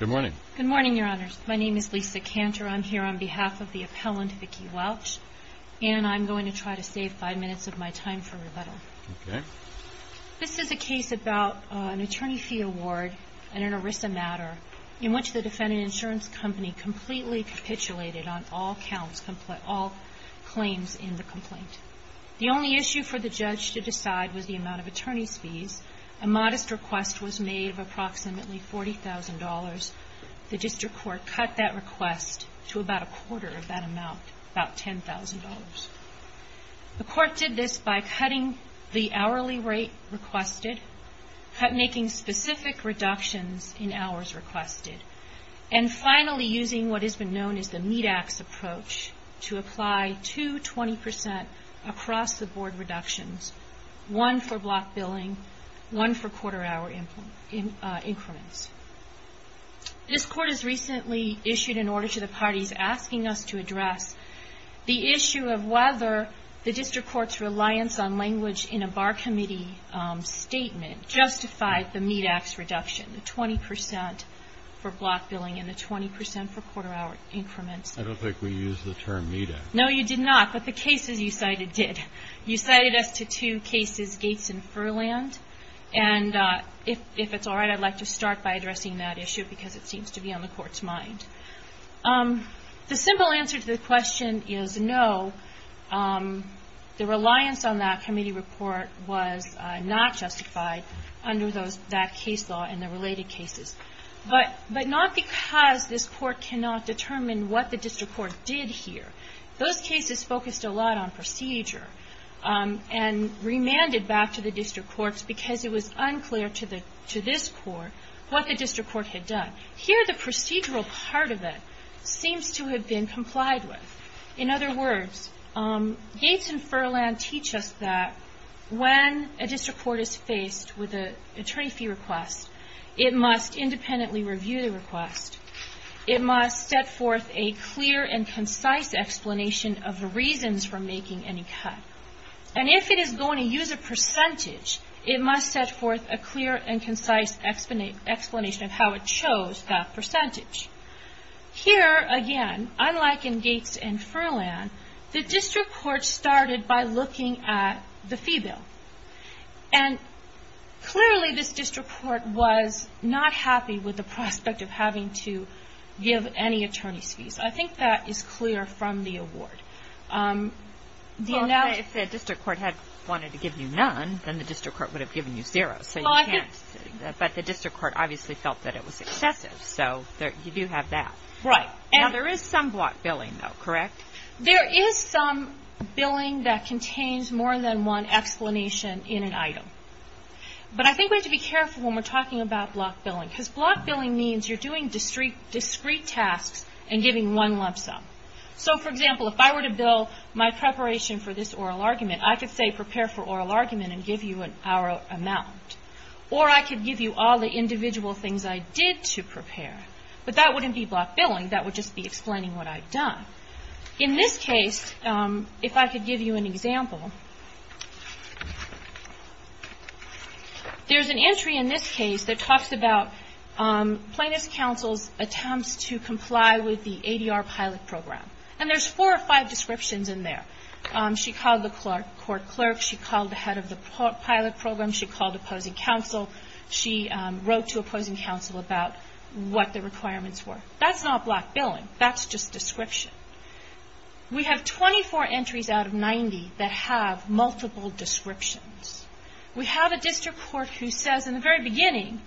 Good morning. Good morning, Your Honors. My name is Lisa Cantor. I'm here on behalf of the appellant, Vicki Welch, and I'm going to try to save five minutes of my time for rebuttal. Okay. This is a case about an attorney fee award and an ERISA matter in which the defendant insurance company completely capitulated on all claims in the complaint. The only issue for the judge to decide was the amount of attorney's fees. A modest request was made of approximately $40,000. The district court cut that request to about a quarter of that amount, about $10,000. The court did this by cutting the hourly rate requested, making specific reductions in hours requested, and finally using what has been known as the meat axe approach to apply two 20 percent across-the-board reductions, one for block billing, one for quarter-hour increments. This court has recently issued an order to the parties asking us to address the issue of whether the district court's reliance on language in a bar committee statement justified the meat axe reduction, the 20 percent for block billing and the 20 percent for quarter-hour increments. I don't think we used the term meat axe. No, you did not. But the cases you cited did. You cited us to two cases, Gates and Furland. And if it's all right, I'd like to start by addressing that issue because it seems to be on the court's mind. The simple answer to the question is no. The reliance on that committee report was not justified under that case law and the related cases. But not because this court cannot determine what the district court did here. Those cases focused a lot on procedure and remanded back to the district courts because it was unclear to this court what the district court had done. Here the procedural part of it seems to have been complied with. In other words, Gates and Furland teach us that when a district court is faced with an attorney fee request, it must independently review the request. It must set forth a clear and concise explanation of the reasons for making any cut. And if it is going to use a percentage, it must set forth a clear and concise explanation of how it chose that percentage. Here, again, unlike in Gates and Furland, the district court started by looking at the fee bill. And clearly this district court was not happy with the prospect of having to give any attorney's fees. I think that is clear from the award. If the district court had wanted to give you none, then the district court would have given you zero. But the district court obviously felt that it was excessive, so you do have that. Right. Now there is some block billing though, correct? There is some billing that contains more than one explanation in an item. But I think we have to be careful when we're talking about block billing, because block billing means you're doing discrete tasks and giving one lump sum. So, for example, if I were to bill my preparation for this oral argument, I could say prepare for oral argument and give you an hour amount. Or I could give you all the individual things I did to prepare. But that wouldn't be block billing. That would just be explaining what I've done. In this case, if I could give you an example, there's an entry in this case that talks about plaintiff's counsel's attempts to comply with the ADR pilot program. And there's four or five descriptions in there. She called the court clerk. She called the head of the pilot program. She called opposing counsel. She wrote to opposing counsel about what the requirements were. That's not block billing. That's just description. We have 24 entries out of 90 that have multiple descriptions. We have a district court who says in the very beginning,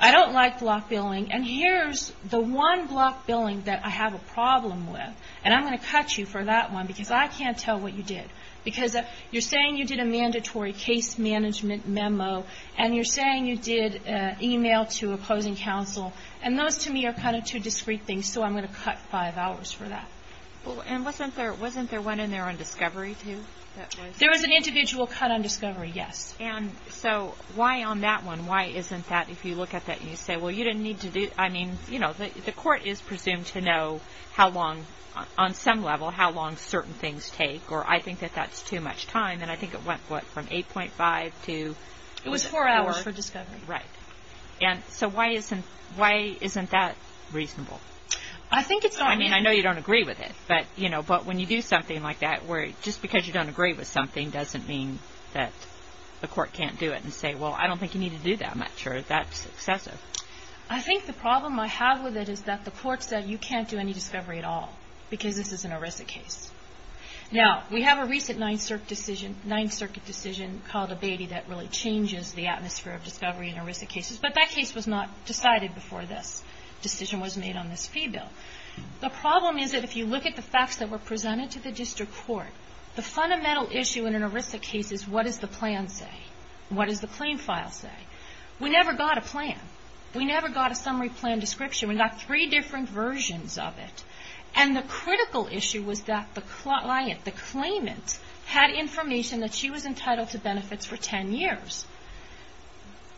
I don't like block billing, and here's the one block billing that I have a problem with, and I'm going to cut you for that one because I can't tell what you did. Because you're saying you did a mandatory case management memo, and you're saying you did email to opposing counsel, and those to me are kind of two discrete things, so I'm going to cut five hours for that. And wasn't there one in there on discovery too? There was an individual cut on discovery, yes. And so why on that one? Why isn't that, if you look at that and you say, well, you didn't need to do, I mean, you know, the court is presumed to know how long, on some level, how long certain things take, or I think that that's too much time, and I think it went, what, from 8.5 to? It was four hours for discovery. Right. And so why isn't that reasonable? I think it's not. I mean, I know you don't agree with it, but, you know, but when you do something like that where just because you don't agree with something doesn't mean that the court can't do it and say, well, I don't think you need to do that much, or that's excessive. I think the problem I have with it is that the court said you can't do any discovery at all because this is an ERISA case. Now, we have a recent Ninth Circuit decision called a baby that really changes the atmosphere of discovery in ERISA cases, but that case was not decided before this decision was made on this fee bill. The problem is that if you look at the facts that were presented to the district court, the fundamental issue in an ERISA case is what does the plan say? What does the claim file say? We never got a plan. We never got a summary plan description. We got three different versions of it. And the critical issue was that the client, the claimant, had information that she was entitled to benefits for ten years.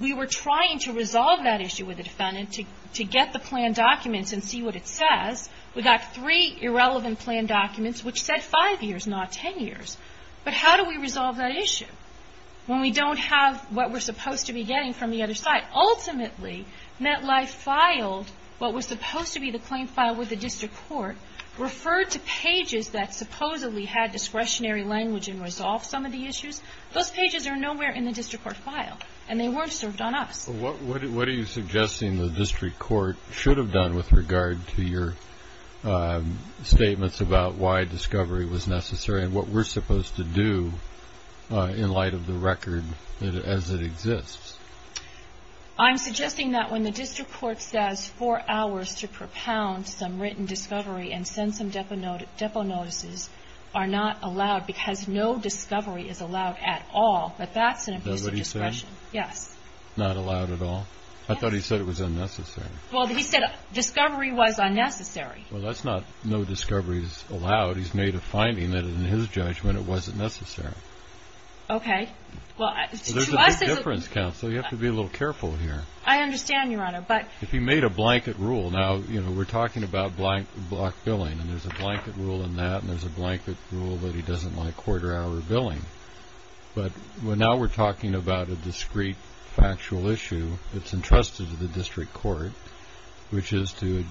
We were trying to resolve that issue with the defendant to get the plan documents and see what it says. We got three irrelevant plan documents which said five years, not ten years. But how do we resolve that issue when we don't have what we're supposed to be getting from the other side? Ultimately, MetLife filed what was supposed to be the claim file with the district court, referred to pages that supposedly had discretionary language and resolved some of the issues. Those pages are nowhere in the district court file, and they weren't served on us. What are you suggesting the district court should have done with regard to your statements about why discovery was necessary and what we're supposed to do in light of the record as it exists? I'm suggesting that when the district court says four hours to propound some written discovery and send some depo notices are not allowed because no discovery is allowed at all. But that's an implicit discretion. That's what he said? Yes. Not allowed at all? I thought he said it was unnecessary. Well, he said discovery was unnecessary. Well, that's not no discovery is allowed. He's made a finding that in his judgment it wasn't necessary. Okay. So there's a big difference, counsel. You have to be a little careful here. I understand, Your Honor. If he made a blanket rule, now we're talking about block billing, and there's a blanket rule in that and there's a blanket rule that he doesn't like quarter-hour billing. But now we're talking about a discrete factual issue that's entrusted to the district court, which is to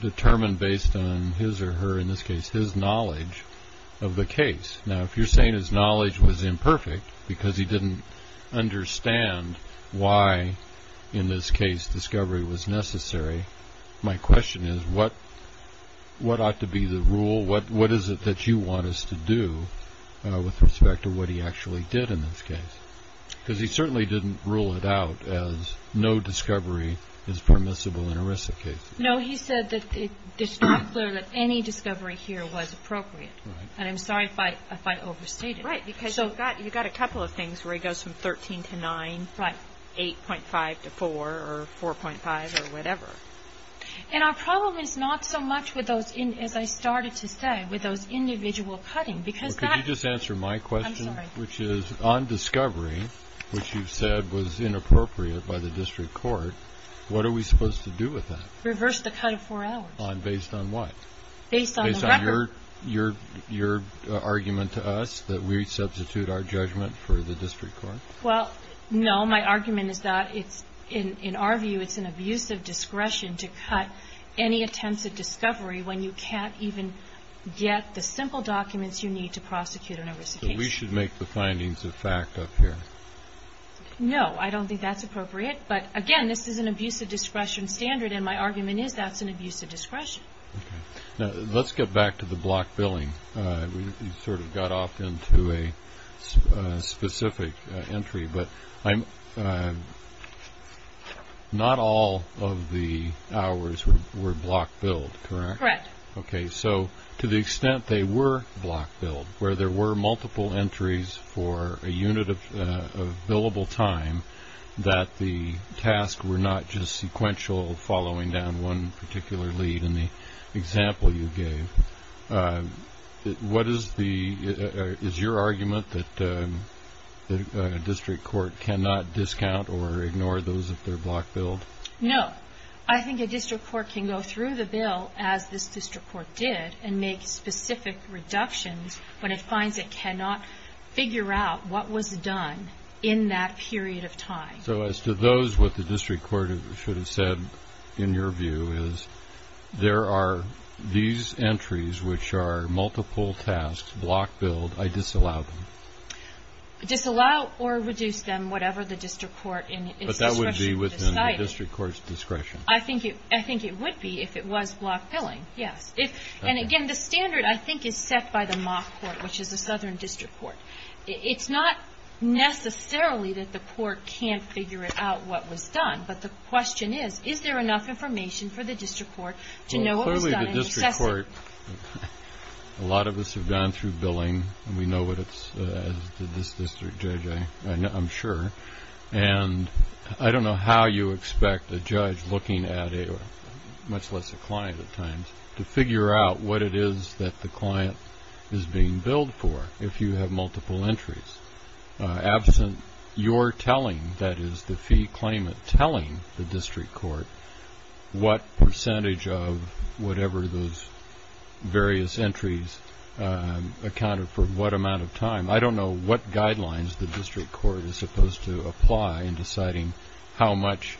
determine based on his or her, in this case, his knowledge of the case. Now, if you're saying his knowledge was imperfect because he didn't understand why, in this case, discovery was necessary, my question is what ought to be the rule? What is it that you want us to do with respect to what he actually did in this case? Because he certainly didn't rule it out as no discovery is permissible in a RISA case. No, he said that it's not clear that any discovery here was appropriate. And I'm sorry if I overstated. Right, because you've got a couple of things where he goes from 13 to 9, 8.5 to 4 or 4.5 or whatever. And our problem is not so much with those, as I started to say, with those individual cuttings. Well, could you just answer my question, which is on discovery, which you've said was inappropriate by the district court, what are we supposed to do with that? Reverse the cut of four hours. Based on what? Based on the record. Based on your argument to us that we substitute our judgment for the district court? Well, no. My argument is that in our view it's an abusive discretion to cut any attempts at discovery when you can't even get the simple documents you need to prosecute an RISA case. So we should make the findings of fact up here? No, I don't think that's appropriate. But, again, this is an abusive discretion standard, and my argument is that's an abusive discretion. Okay. Now, let's get back to the block billing. We sort of got off into a specific entry, but not all of the hours were block billed, correct? Correct. Okay. So to the extent they were block billed, where there were multiple entries for a unit of billable time, that the tasks were not just sequential following down one particular lead in the example you gave, is your argument that a district court cannot discount or ignore those if they're block billed? No. I think a district court can go through the bill, as this district court did, and make specific reductions when it finds it cannot figure out what was done in that period of time. So as to those, what the district court should have said, in your view, is there are these entries which are multiple tasks, block billed, I disallow them? Disallow or reduce them, whatever the district court in its discretion has decided. I think it would be if it was block billing, yes. And, again, the standard, I think, is set by the mock court, which is a southern district court. It's not necessarily that the court can't figure out what was done, but the question is, is there enough information for the district court to know what was done in excess of it? Well, clearly the district court, a lot of us have gone through billing, and we know what it says, this district judge, I'm sure. And I don't know how you expect a judge looking at a, much less a client at times, to figure out what it is that the client is being billed for if you have multiple entries. Absent your telling, that is the fee claimant telling the district court, what percentage of whatever those various entries accounted for what amount of time, I don't know what guidelines the district court is supposed to apply in deciding how much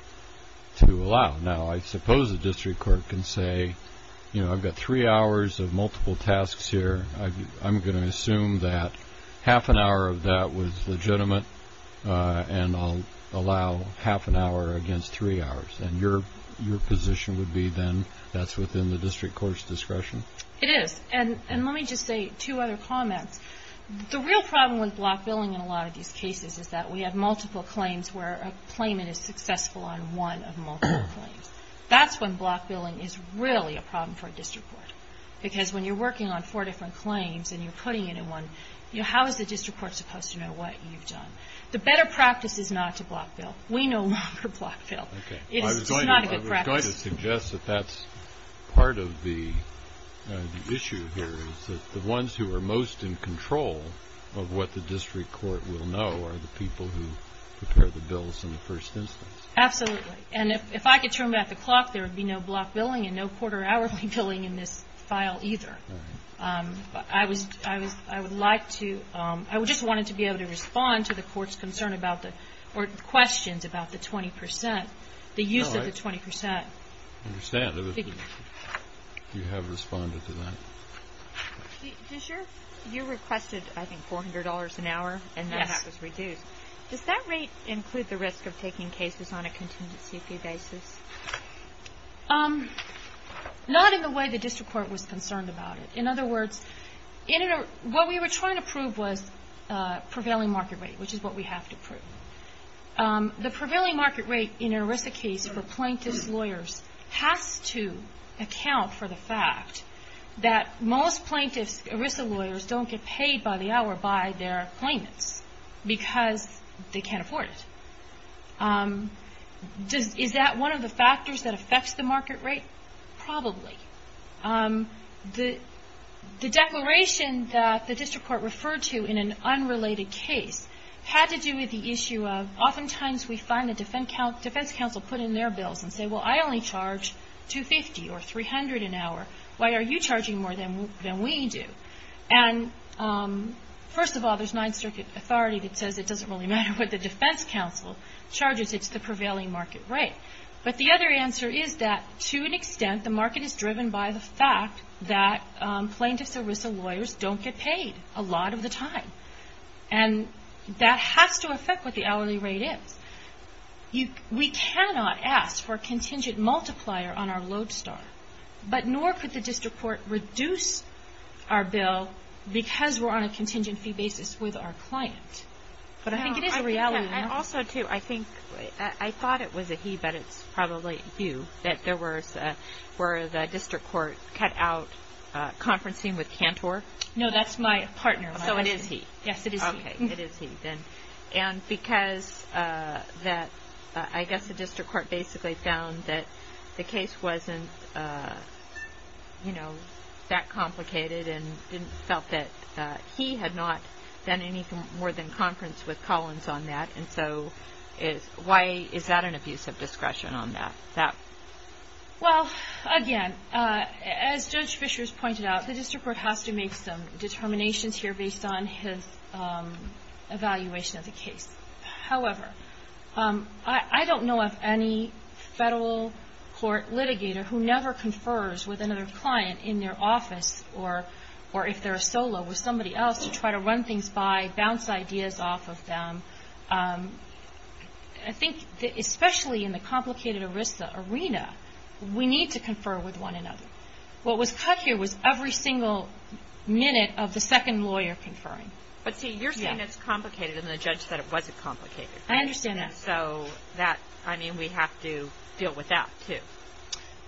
to allow. Now, I suppose the district court can say, you know, I've got three hours of multiple tasks here. I'm going to assume that half an hour of that was legitimate, and I'll allow half an hour against three hours. And your position would be then that's within the district court's discretion? It is. And let me just say two other comments. The real problem with block billing in a lot of these cases is that we have multiple claims where a claimant is successful on one of multiple claims. That's when block billing is really a problem for a district court, because when you're working on four different claims and you're putting it in one, how is the district court supposed to know what you've done? The better practice is not to block bill. We no longer block bill. It's not a good practice. I was going to suggest that that's part of the issue here, is that the ones who are most in control of what the district court will know are the people who prepare the bills in the first instance. Absolutely. And if I could turn back the clock, there would be no block billing and no quarter-hour billing in this file either. I would like to ‑‑ I just wanted to be able to respond to the court's concern about the or questions about the 20 percent, the use of the 20 percent. I understand. You have responded to that. You requested, I think, $400 an hour, and that was reduced. Does that rate include the risk of taking cases on a contingency basis? Not in the way the district court was concerned about it. In other words, what we were trying to prove was prevailing market rate, which is what we have to prove. The prevailing market rate in an ERISA case for plaintiff's lawyers has to account for the fact that most plaintiff's ERISA lawyers don't get paid by the hour by their claimants because they can't afford it. Is that one of the factors that affects the market rate? Probably. The declaration that the district court referred to in an unrelated case had to do with the issue of oftentimes we find the defense counsel put in their bills and say, well, I only charge $250 or $300 an hour. Why are you charging more than we do? And first of all, there's Ninth Circuit authority that says it doesn't really matter what the defense counsel charges. It's the prevailing market rate. But the other answer is that to an extent the market is driven by the fact that plaintiff's ERISA lawyers don't get paid a lot of the time. And that has to affect what the hourly rate is. We cannot ask for a contingent multiplier on our lodestar, but nor could the district court reduce our bill because we're on a contingency basis with our client. But I think it is a reality. And also, too, I thought it was a he, but it's probably you, that there were the district court cut out conferencing with Cantor. No, that's my partner. So it is he. Yes, it is he. Okay, it is he then. And because I guess the district court basically found that the case wasn't that complicated and felt that he had not done anything more than conference with Collins on that, and so why is that an abuse of discretion on that? Well, again, as Judge Fishers pointed out, the district court has to make some determinations here based on his evaluation of the case. However, I don't know of any federal court litigator who never confers with another client in their office or if they're a solo with somebody else to try to run things by, bounce ideas off of them. I think especially in the complicated ERISA arena, we need to confer with one another. What was cut here was every single minute of the second lawyer conferring. But, see, you're saying it's complicated and the judge said it wasn't complicated. I understand that. So that, I mean, we have to deal with that too.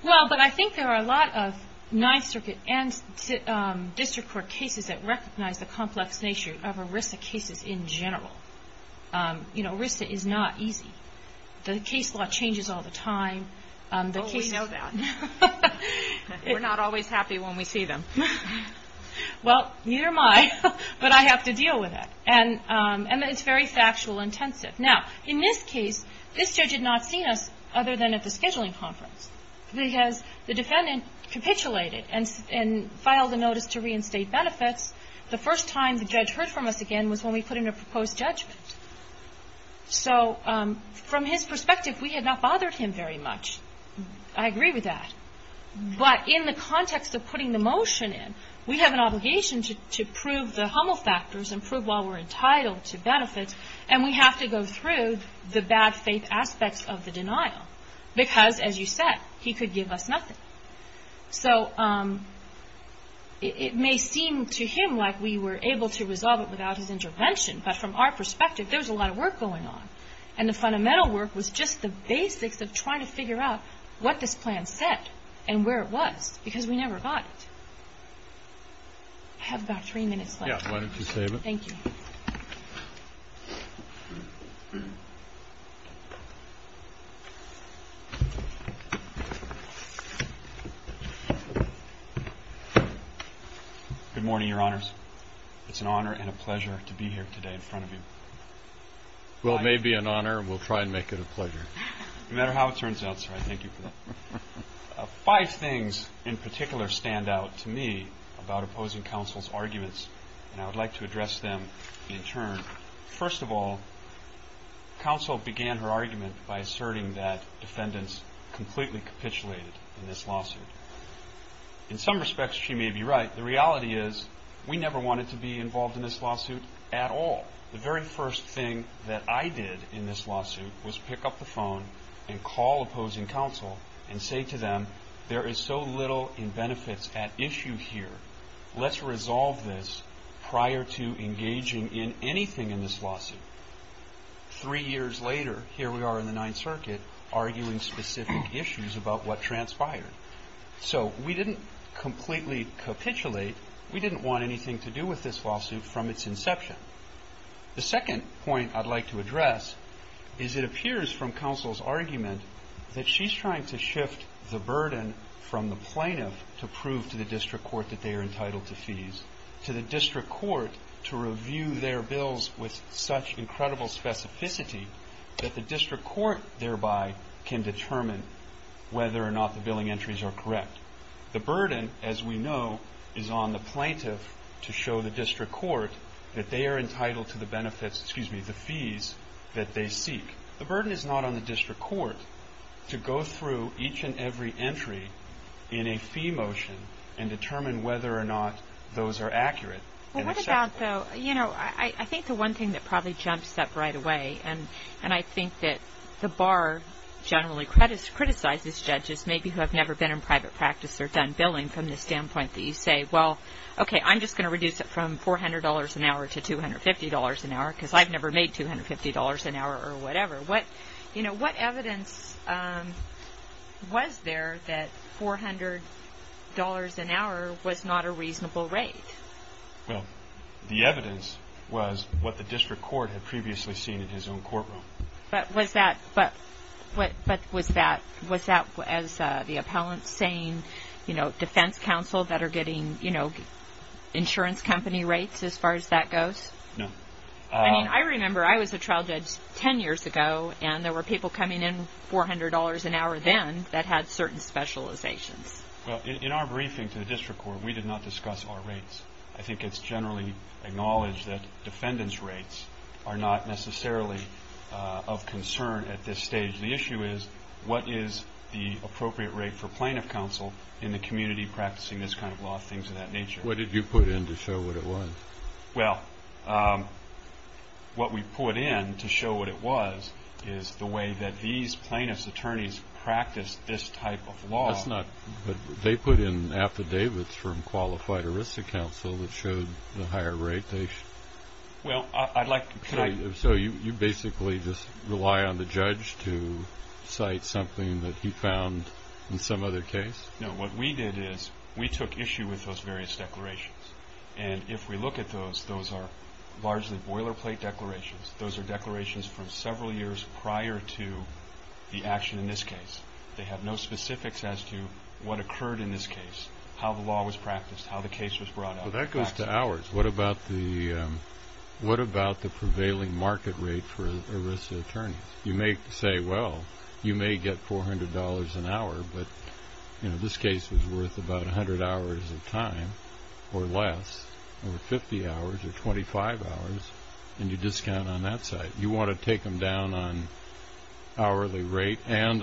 Well, but I think there are a lot of Ninth Circuit and district court cases that recognize the complex nature of ERISA cases in general. You know, ERISA is not easy. The case law changes all the time. Oh, we know that. We're not always happy when we see them. Well, neither am I, but I have to deal with it. And it's very factual intensive. Now, in this case, this judge had not seen us other than at the scheduling conference because the defendant capitulated and filed a notice to reinstate benefits. The first time the judge heard from us again was when we put in a proposed judgment. So from his perspective, we had not bothered him very much. I agree with that. But in the context of putting the motion in, we have an obligation to prove the Hummel factors and prove why we're entitled to benefits, and we have to go through the bad faith aspects of the denial because, as you said, he could give us nothing. So it may seem to him like we were able to resolve it without his intervention, but from our perspective, there was a lot of work going on, and the fundamental work was just the basics of trying to figure out what this plan said and where it was because we never got it. I have about three minutes left. Why don't you save it? Thank you. Good morning, Your Honors. It's an honor and a pleasure to be here today in front of you. Well, it may be an honor, and we'll try and make it a pleasure. No matter how it turns out, sir, I thank you for that. Five things in particular stand out to me about opposing counsel's arguments, and I would like to address them in turn. First of all, counsel began her argument by asserting that defendants completely capitulated in this lawsuit. In some respects, she may be right. The reality is we never wanted to be involved in this lawsuit at all. The very first thing that I did in this lawsuit was pick up the phone and call opposing counsel and say to them there is so little in benefits at issue here. Let's resolve this prior to engaging in anything in this lawsuit. Three years later, here we are in the Ninth Circuit arguing specific issues about what transpired. So we didn't completely capitulate. We didn't want anything to do with this lawsuit from its inception. The second point I'd like to address is it appears from counsel's argument that she's trying to shift the burden from the plaintiff to prove to the district court that they are entitled to fees, to the district court to review their bills with such incredible specificity that the district court thereby can determine whether or not the billing entries are correct. The burden, as we know, is on the plaintiff to show the district court that they are entitled to the benefits, excuse me, the fees that they seek. The burden is not on the district court to go through each and every entry in a fee motion and determine whether or not those are accurate. Well, what about, though, you know, I think the one thing that probably jumps up right away, and I think that the bar generally criticizes judges maybe who have never been in private practice or done billing from the standpoint that you say, well, okay, I'm just going to reduce it from $400 an hour to $250 an hour because I've never made $250 an hour or whatever. You know, what evidence was there that $400 an hour was not a reasonable rate? Well, the evidence was what the district court had previously seen in his own courtroom. But was that, as the appellant's saying, you know, defense counsel that are getting, you know, insurance company rates as far as that goes? No. I mean, I remember I was a trial judge 10 years ago, and there were people coming in $400 an hour then that had certain specializations. Well, in our briefing to the district court, we did not discuss our rates. I think it's generally acknowledged that defendant's rates are not necessarily of concern at this stage. The issue is what is the appropriate rate for plaintiff counsel in the community practicing this kind of law, things of that nature. What did you put in to show what it was? Well, what we put in to show what it was is the way that these plaintiff's attorneys practice this type of law. That's not – they put in affidavits from qualified ERISA counsel that showed the higher rate they – Well, I'd like – So you basically just rely on the judge to cite something that he found in some other case? No. What we did is we took issue with those various declarations. And if we look at those, those are largely boilerplate declarations. Those are declarations from several years prior to the action in this case. They have no specifics as to what occurred in this case, how the law was practiced, how the case was brought up. Well, that goes to hours. What about the prevailing market rate for ERISA attorneys? You may say, well, you may get $400 an hour, but this case was worth about 100 hours of time or less, or 50 hours or 25 hours, and you discount on that side. You want to take them down on hourly rate and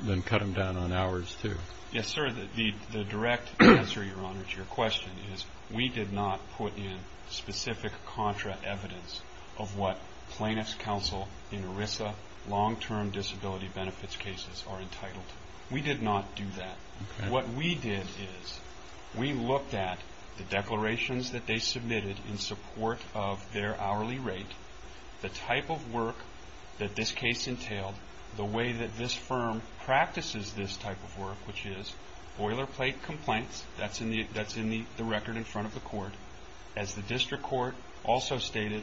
then cut them down on hours, too? Yes, sir. The direct answer, Your Honor, to your question is we did not put in specific contra evidence of what plaintiff's counsel in ERISA long-term disability benefits cases are entitled to. We did not do that. Okay. What we did is we looked at the declarations that they submitted in support of their hourly rate, the type of work that this case entailed, the way that this firm practices this type of work, which is boilerplate complaints. That's in the record in front of the court. As the district court also stated,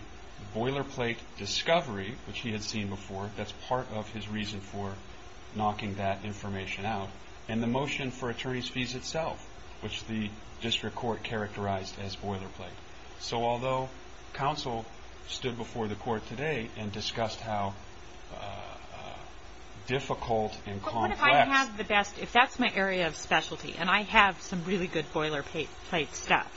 boilerplate discovery, which he had seen before, that's part of his reason for knocking that information out, and the motion for attorney's fees itself, which the district court characterized as boilerplate. So although counsel stood before the court today and discussed how difficult and complex. But what if I have the best, if that's my area of specialty and I have some really good boilerplate stuff,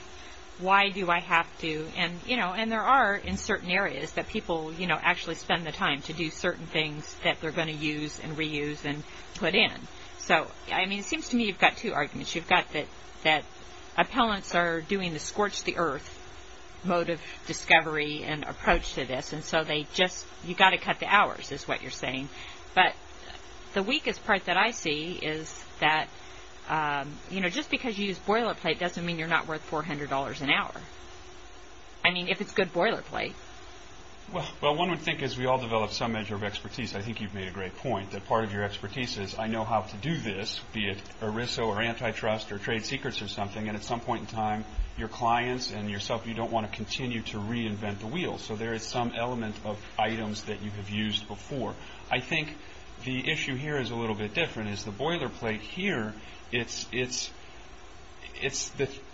why do I have to? And there are, in certain areas, that people actually spend the time to do certain things that they're going to use and reuse and put in. So, I mean, it seems to me you've got two arguments. You've got that appellants are doing the scorch-the-earth mode of discovery and approach to this, and so they just, you've got to cut the hours is what you're saying. But the weakest part that I see is that, you know, just because you use boilerplate doesn't mean you're not worth $400 an hour. I mean, if it's good boilerplate. Well, one would think as we all develop some measure of expertise, I think you've made a great point, that part of your expertise is I know how to do this, be it ERISO or antitrust or trade secrets or something, and at some point in time, your clients and yourself, you don't want to continue to reinvent the wheel. So there is some element of items that you have used before. I think the issue here is a little bit different, is the boilerplate here, it's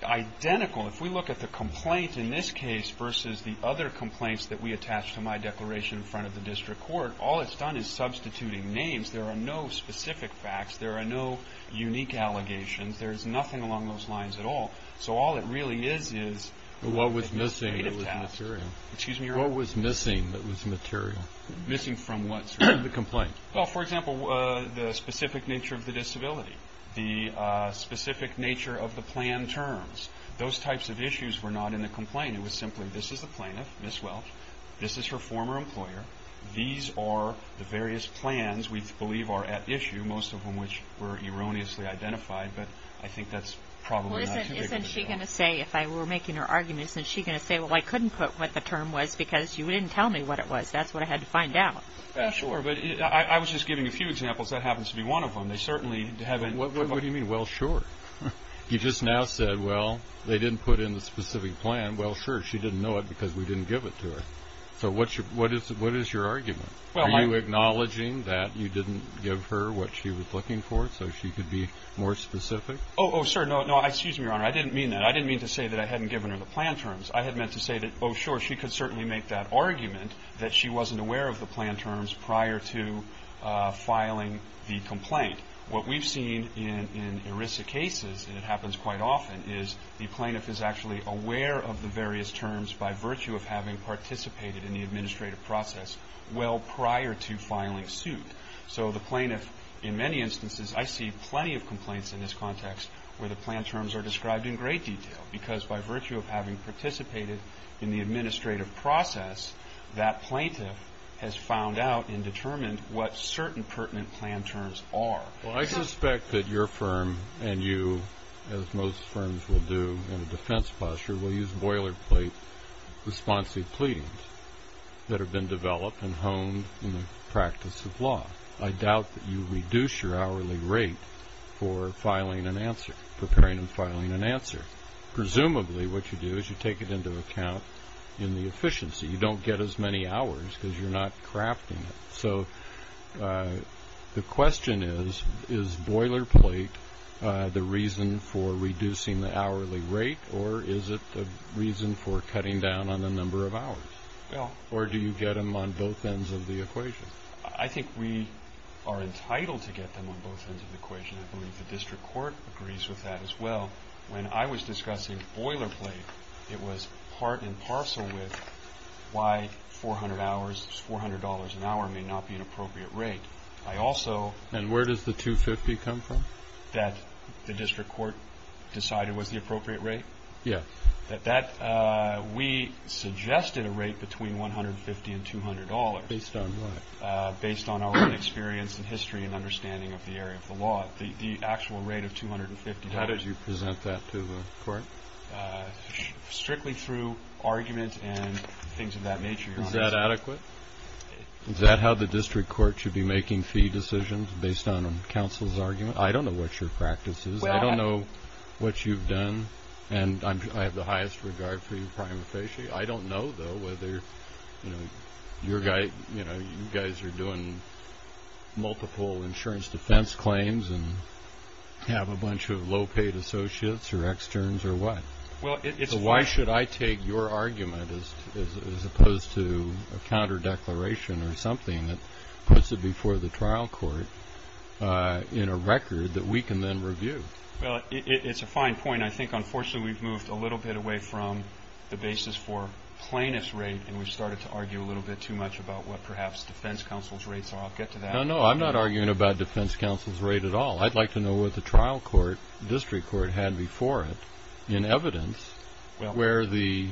identical. If we look at the complaint in this case versus the other complaints that we attach to my declaration in front of the district court, all it's done is substituting names. There are no specific facts. There are no unique allegations. There's nothing along those lines at all. So all it really is, is what was missing that was material. What was missing that was material? Missing from what, sir? The complaint. Well, for example, the specific nature of the disability, the specific nature of the plan terms. Those types of issues were not in the complaint. It was simply, this is the plaintiff, Miss Welch. This is her former employer. These are the various plans we believe are at issue, most of them which were erroneously identified, but I think that's probably not too big of a deal. Well, isn't she going to say, if I were making her argument, isn't she going to say, well, I couldn't put what the term was because you didn't tell me what it was. That's what I had to find out. Sure, but I was just giving a few examples. That happens to be one of them. They certainly haven't. What do you mean, well, sure? You just now said, well, they didn't put in the specific plan. Well, sure, she didn't know it because we didn't give it to her. So what is your argument? Are you acknowledging that you didn't give her what she was looking for so she could be more specific? Oh, sir, no, excuse me, Your Honor, I didn't mean that. I didn't mean to say that I hadn't given her the plan terms. I had meant to say that, oh, sure, she could certainly make that argument that she wasn't aware of the plan terms prior to filing the complaint. What we've seen in ERISA cases, and it happens quite often, is the plaintiff is actually aware of the various terms by virtue of having participated in the administrative process well prior to filing suit. So the plaintiff, in many instances, I see plenty of complaints in this context where the plan terms are described in great detail because by virtue of having participated in the administrative process, that plaintiff has found out and determined what certain pertinent plan terms are. Well, I suspect that your firm and you, as most firms will do in a defense posture, will use boilerplate responsive pleadings that have been developed and honed in the practice of law. I doubt that you reduce your hourly rate for filing an answer, preparing and filing an answer. Presumably what you do is you take it into account in the efficiency. You don't get as many hours because you're not crafting it. So the question is, is boilerplate the reason for reducing the hourly rate, or is it the reason for cutting down on the number of hours? Or do you get them on both ends of the equation? I think we are entitled to get them on both ends of the equation. I believe the district court agrees with that as well. When I was discussing boilerplate, it was part and parcel with why $400 an hour may not be an appropriate rate. And where does the $250 come from? That the district court decided was the appropriate rate? Yes. We suggested a rate between $150 and $200. Based on what? Based on our own experience and history and understanding of the area of the law. The actual rate of $250. How did you present that to the court? Strictly through argument and things of that nature, Your Honor. Is that adequate? Is that how the district court should be making fee decisions based on counsel's argument? I don't know what your practice is. I don't know what you've done. And I have the highest regard for you, Prime Officier. I don't know, though, whether you guys are doing multiple insurance defense claims and have a bunch of low-paid associates or externs or what. So why should I take your argument as opposed to a counter declaration or something that puts it before the trial court in a record that we can then review? It's a fine point. I mean, I think, unfortunately, we've moved a little bit away from the basis for plaintiff's rate and we've started to argue a little bit too much about what perhaps defense counsel's rates are. I'll get to that. No, no, I'm not arguing about defense counsel's rate at all. I'd like to know what the trial court, district court, had before it in evidence where the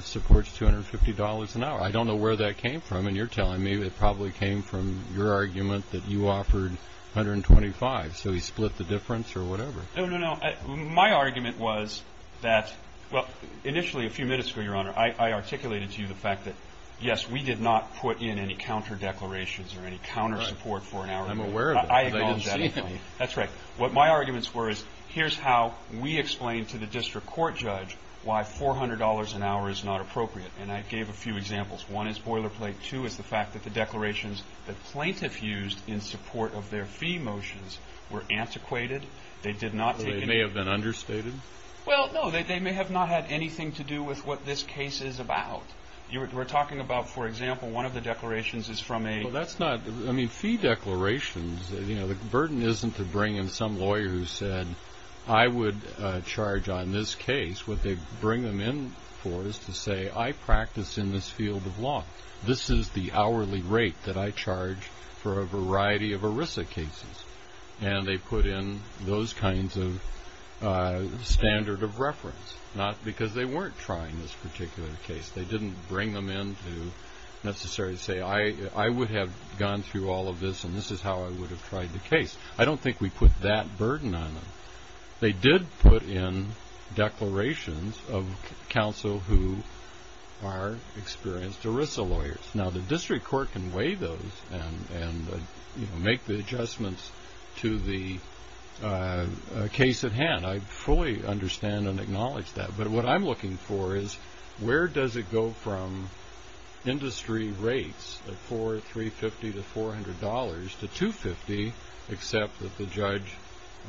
support's $250 an hour. I don't know where that came from, and you're telling me it probably came from your argument that you offered $125, so he split the difference or whatever. No, no, no. My argument was that, well, initially a few minutes ago, Your Honor, I articulated to you the fact that, yes, we did not put in any counter declarations or any counter support for an hour. I'm aware of that because I didn't see any. That's right. What my arguments were is here's how we explain to the district court judge why $400 an hour is not appropriate, and I gave a few examples. One is boilerplate. Two is the fact that the declarations that plaintiff used in support of their fee motions were antiquated. They did not take any. They may have been understated. Well, no, they may have not had anything to do with what this case is about. We're talking about, for example, one of the declarations is from a... Well, that's not... I mean, fee declarations, you know, the burden isn't to bring in some lawyer who said I would charge on this case. What they bring them in for is to say I practice in this field of law. This is the hourly rate that I charge for a variety of ERISA cases, and they put in those kinds of standard of reference, not because they weren't trying this particular case. They didn't bring them in to necessarily say I would have gone through all of this and this is how I would have tried the case. I don't think we put that burden on them. They did put in declarations of counsel who are experienced ERISA lawyers. Now, the district court can weigh those and make the adjustments to the case at hand. I fully understand and acknowledge that. But what I'm looking for is where does it go from industry rates of $450 to $400 to $250, except that the judge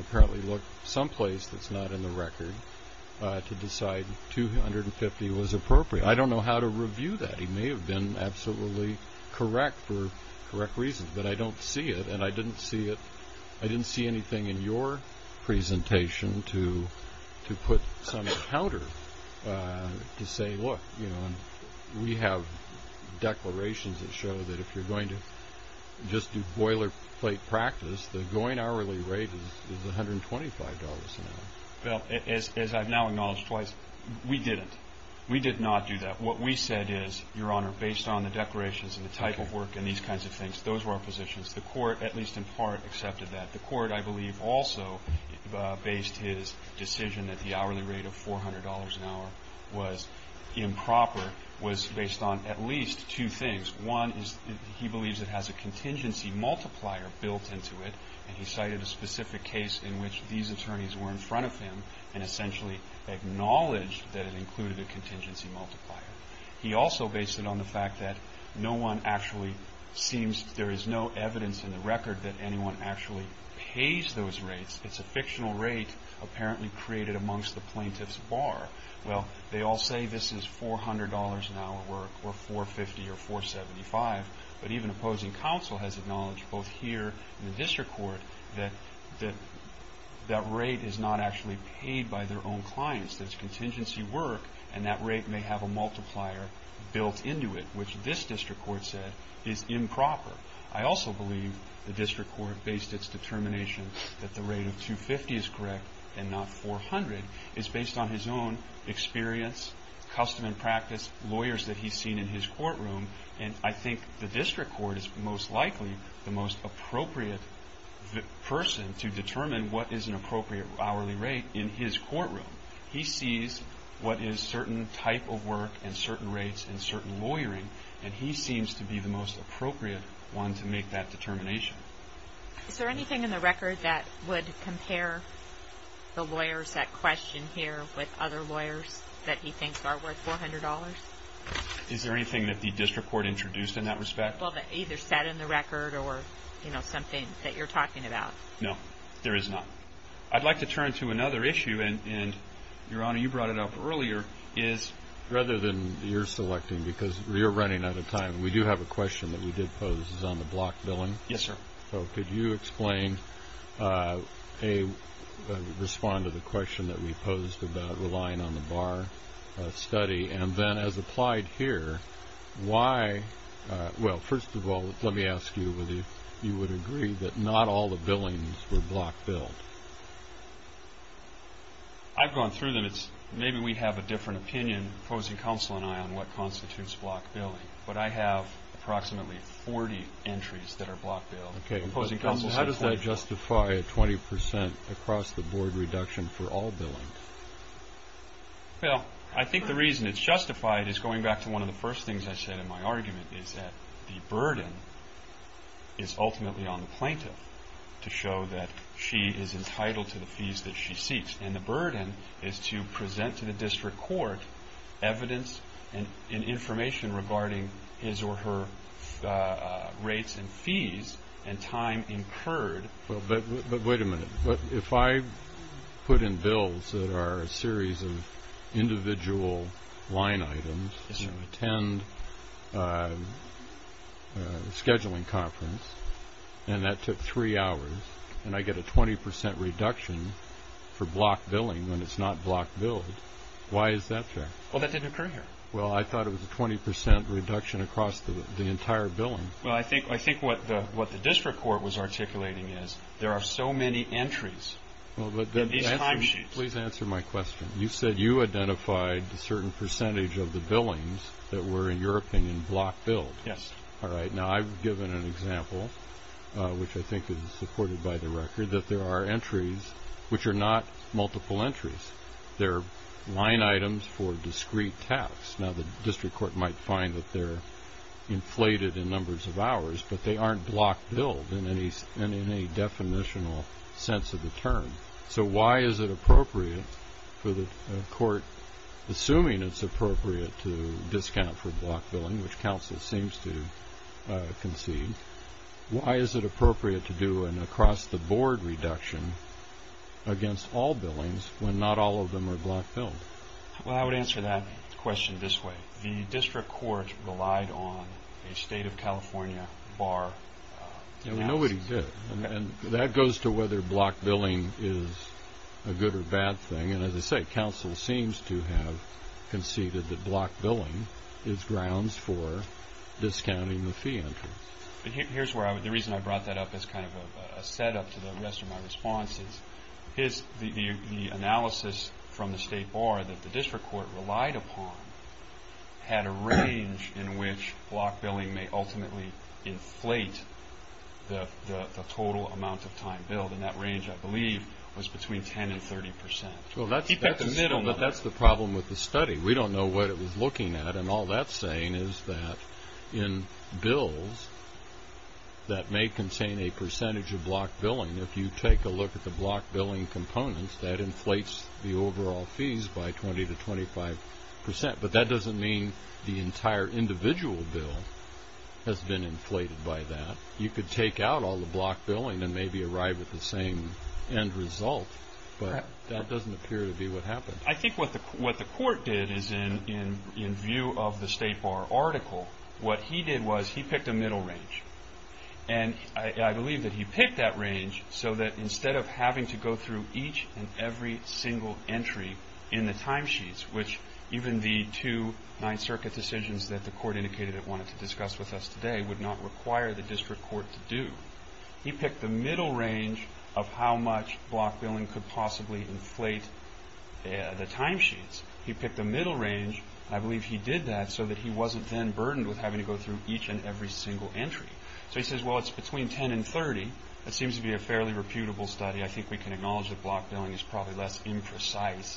apparently looked someplace that's not in the record to decide $250 was appropriate. I don't know how to review that. He may have been absolutely correct for correct reasons, but I don't see it, and I didn't see anything in your presentation to put some counter to say, look, we have declarations that show that if you're going to just do boilerplate practice, the going hourly rate is $125 an hour. As I've now acknowledged twice, we didn't. We did not do that. What we said is, Your Honor, based on the declarations and the type of work and these kinds of things, those were our positions. The court, at least in part, accepted that. The court, I believe, also based his decision that the hourly rate of $400 an hour was improper, was based on at least two things. One is he believes it has a contingency multiplier built into it, and he cited a specific case in which these attorneys were in front of him and essentially acknowledged that it included a contingency multiplier. He also based it on the fact that there is no evidence in the record that anyone actually pays those rates. It's a fictional rate apparently created amongst the plaintiff's bar. Well, they all say this is $400 an hour work or $450 or $475, but even opposing counsel has acknowledged both here and in the district court that that rate is not actually paid by their own clients. There's contingency work, and that rate may have a multiplier built into it, which this district court said is improper. I also believe the district court based its determination that the rate of $250 is correct and not $400. It's based on his own experience, custom and practice, lawyers that he's seen in his courtroom, and I think the district court is most likely the most appropriate person to determine what is an appropriate hourly rate in his courtroom. He sees what is certain type of work and certain rates and certain lawyering, and he seems to be the most appropriate one to make that determination. Is there anything in the record that would compare the lawyers that question here with other lawyers that he thinks are worth $400? Is there anything that the district court introduced in that respect? Well, that either sat in the record or, you know, something that you're talking about. No, there is not. I'd like to turn to another issue, and, Your Honor, you brought it up earlier, is rather than your selecting, because you're running out of time, we do have a question that we did pose. It's on the block billing. Yes, sir. So could you explain a response to the question that we posed about relying on the bar study and then, as applied here, why? Well, first of all, let me ask you whether you would agree that not all the billings were block billed. I've gone through them. Maybe we have a different opinion, opposing counsel and I, on what constitutes block billing, but I have approximately 40 entries that are block billed. How does that justify a 20% across-the-board reduction for all billings? Well, I think the reason it's justified is, going back to one of the first things I said in my argument, is that the burden is ultimately on the plaintiff to show that she is entitled to the fees that she seeks, and the burden is to present to the district court evidence and information regarding his or her rates and fees and time incurred. But wait a minute. If I put in bills that are a series of individual line items, attend a scheduling conference, and that took three hours, and I get a 20% reduction for block billing when it's not block billed, why is that fair? Well, that didn't occur here. Well, I thought it was a 20% reduction across the entire billing. Well, I think what the district court was articulating is there are so many entries in these timesheets. Please answer my question. You said you identified a certain percentage of the billings that were, in your opinion, block billed. Yes. All right. Now, I've given an example, which I think is supported by the record, that there are entries which are not multiple entries. They're line items for discrete tax. Now, the district court might find that they're inflated in numbers of hours, but they aren't block billed in any definitional sense of the term. So why is it appropriate for the court, assuming it's appropriate to discount for block billing, which counsel seems to concede, why is it appropriate to do an across-the-board reduction against all billings when not all of them are block billed? Well, I would answer that question this way. The district court relied on a State of California bar analysis. Nobody did. And that goes to whether block billing is a good or bad thing. And as I say, counsel seems to have conceded that block billing is grounds for discounting the fee entry. Here's where I would—the reason I brought that up as kind of a setup to the rest of my response is the analysis from the state bar that the district court relied upon had a range in which block billing may ultimately inflate the total amount of time billed, and that range, I believe, was between 10% and 30%. Well, that's the problem with the study. We don't know what it was looking at. And all that's saying is that in bills that may contain a percentage of block billing, if you take a look at the block billing components, that inflates the overall fees by 20% to 25%. But that doesn't mean the entire individual bill has been inflated by that. You could take out all the block billing and maybe arrive at the same end result. But that doesn't appear to be what happened. I think what the court did is in view of the state bar article, what he did was he picked a middle range. And I believe that he picked that range so that instead of having to go through each and every single entry in the timesheets, which even the two Ninth Circuit decisions that the court indicated it wanted to discuss with us today would not require the district court to do, he picked the middle range of how much block billing could possibly inflate the timesheets. He picked the middle range. I believe he did that so that he wasn't then burdened with having to go through each and every single entry. So he says, well, it's between 10 and 30. That seems to be a fairly reputable study. I think we can acknowledge that block billing is probably less imprecise,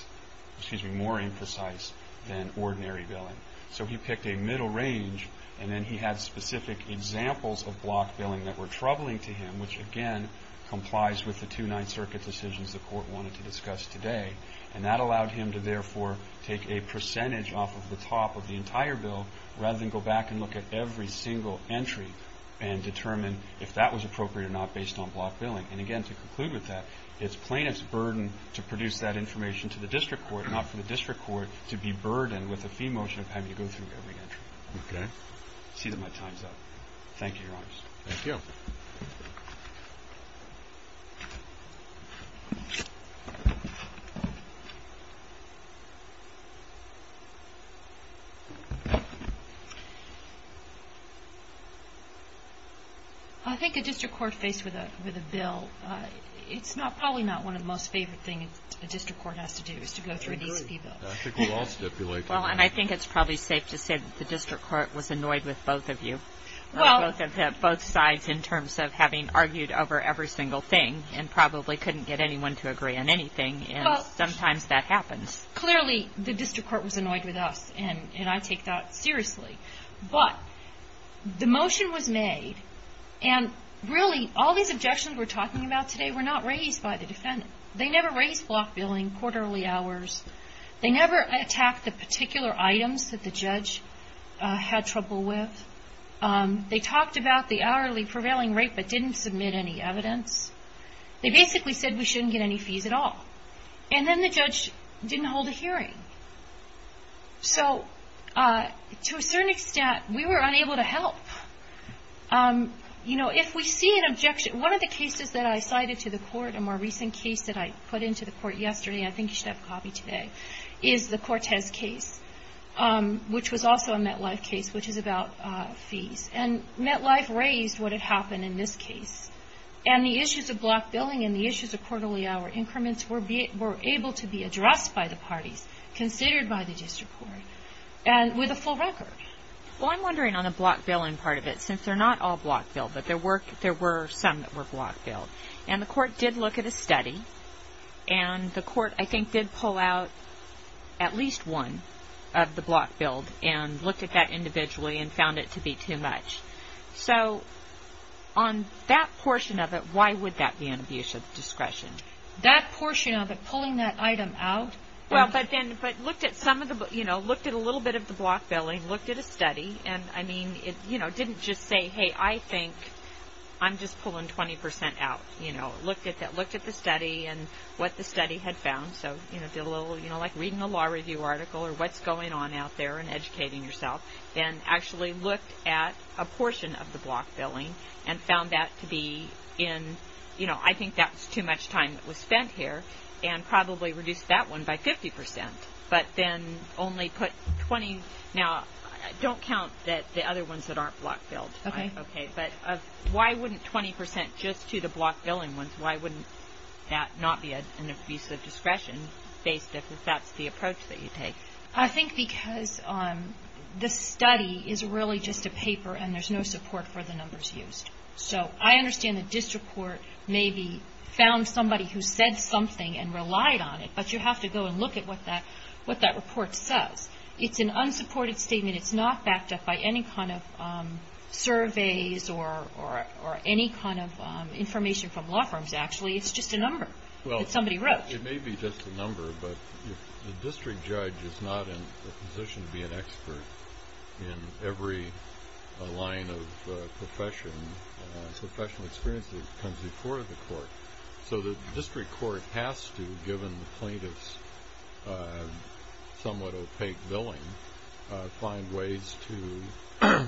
excuse me, more imprecise than ordinary billing. So he picked a middle range. And then he had specific examples of block billing that were troubling to him, which, again, complies with the two Ninth Circuit decisions the court wanted to discuss today. And that allowed him to, therefore, take a percentage off of the top of the entire bill rather than go back and look at every single entry and determine if that was appropriate or not based on block billing. And, again, to conclude with that, it's plaintiff's burden to produce that information to the district court, not for the district court to be burdened with a fee motion of having to go through every entry. Okay. I see that my time's up. Thank you, Your Honors. Thank you. Thank you. I think a district court faced with a bill, it's probably not one of the most favorite things a district court has to do, is to go through an ESP bill. I agree. I think we all stipulate that. Well, and I think it's probably safe to say that the district court was annoyed with both of you, both sides in terms of having argued over every single thing and probably couldn't get anyone to agree on anything, and sometimes that happens. Clearly, the district court was annoyed with us, and I take that seriously. But the motion was made, and really, all these objections we're talking about today were not raised by the defendant. They never raised block billing, quarterly hours. They never attacked the particular items that the judge had trouble with. They talked about the hourly prevailing rate but didn't submit any evidence. They basically said we shouldn't get any fees at all. And then the judge didn't hold a hearing. So to a certain extent, we were unable to help. You know, if we see an objection, one of the cases that I cited to the court, a more recent case that I put into the court yesterday, I think you should have a copy today, is the Cortez case, which was also a MetLife case, which is about fees. And MetLife raised what had happened in this case. And the issues of block billing and the issues of quarterly hour increments were able to be addressed by the parties, considered by the district court, and with a full record. Well, I'm wondering on the block billing part of it, since they're not all block billed, but there were some that were block billed. And the court did look at a study. And the court, I think, did pull out at least one of the block billed and looked at that individually and found it to be too much. So on that portion of it, why would that be an abuse of discretion? That portion of it, pulling that item out? Well, but looked at a little bit of the block billing, looked at a study. And, I mean, it didn't just say, hey, I think I'm just pulling 20% out, you know. Looked at the study and what the study had found. So, you know, like reading a law review article or what's going on out there and educating yourself. And actually looked at a portion of the block billing and found that to be in, you know, I think that's too much time that was spent here and probably reduced that one by 50%. But then only put 20. Now, don't count the other ones that aren't block billed. Okay. But why wouldn't 20% just to the block billing ones, why wouldn't that not be an abuse of discretion based if that's the approach that you take? I think because the study is really just a paper and there's no support for the numbers used. So I understand the district court maybe found somebody who said something and relied on it. But you have to go and look at what that report says. It's an unsupported statement. It's not backed up by any kind of surveys or any kind of information from law firms, actually. It's just a number that somebody wrote. Well, it may be just a number, but if the district judge is not in a position to be an expert in every line of profession, professional experience that comes before the court, so the district court has to, given the plaintiff's somewhat opaque billing, find ways to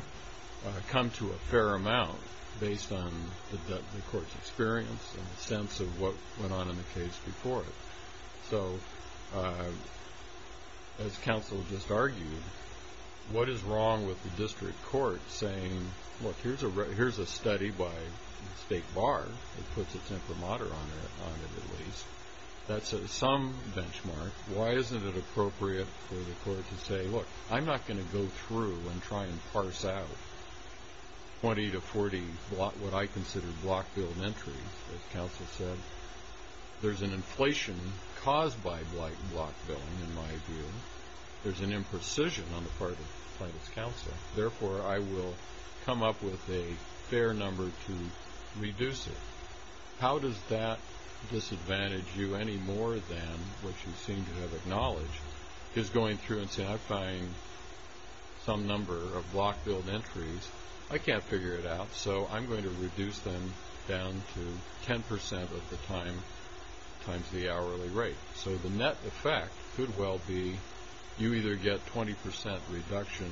come to a fair amount based on the court's experience and the sense of what went on in the case before it. So as counsel just argued, what is wrong with the district court saying, look, here's a study by State Bar that puts its imprimatur on it, at least. That's some benchmark. Why isn't it appropriate for the court to say, look, I'm not going to go through and try and parse out 20 to 40 what I consider block-billed entries, as counsel said. There's an inflation caused by block-billing, in my view. There's an imprecision on the part of the plaintiff's counsel. Therefore, I will come up with a fair number to reduce it. How does that disadvantage you any more than what you seem to have acknowledged, is going through and saying, I find some number of block-billed entries. I can't figure it out, so I'm going to reduce them down to 10% of the time times the hourly rate. So the net effect could well be you either get 20% reduction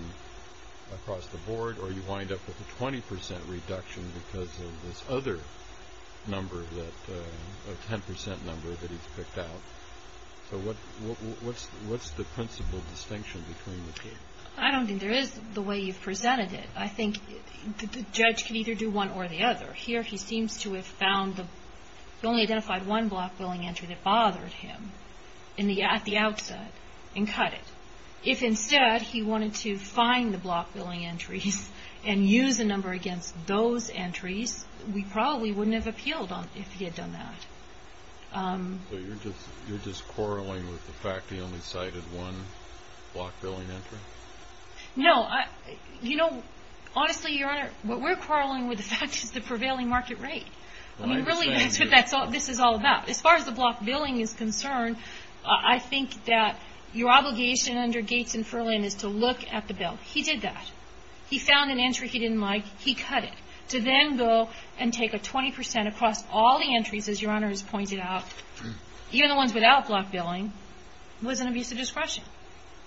across the board or you wind up with a 20% reduction because of this other number, a 10% number that he's picked out. So what's the principle distinction between the two? I don't think there is the way you've presented it. I think the judge can either do one or the other. Here he seems to have found the only identified one block-billing entry that bothered him at the outset and cut it. If instead he wanted to find the block-billing entries and use a number against those entries, we probably wouldn't have appealed if he had done that. So you're just quarreling with the fact he only cited one block-billing entry? No. You know, honestly, Your Honor, what we're quarreling with the fact is the prevailing market rate. I mean, really, that's what this is all about. As far as the block-billing is concerned, I think that your obligation under Gates and Furlan is to look at the bill. He did that. He found an entry he didn't like. He cut it. To then go and take a 20% across all the entries, as Your Honor has pointed out, even the ones without block-billing, was an abuse of discretion.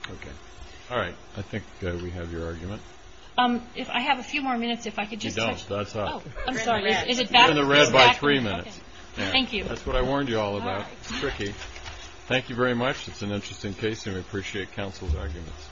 Okay. All right. I think we have your argument. If I have a few more minutes, if I could just touch... You don't. That's not... Oh, I'm sorry. Is it back? You're in the red by three minutes. Thank you. That's what I warned you all about. It's tricky. Thank you very much. It's an interesting case, and we appreciate counsel's arguments.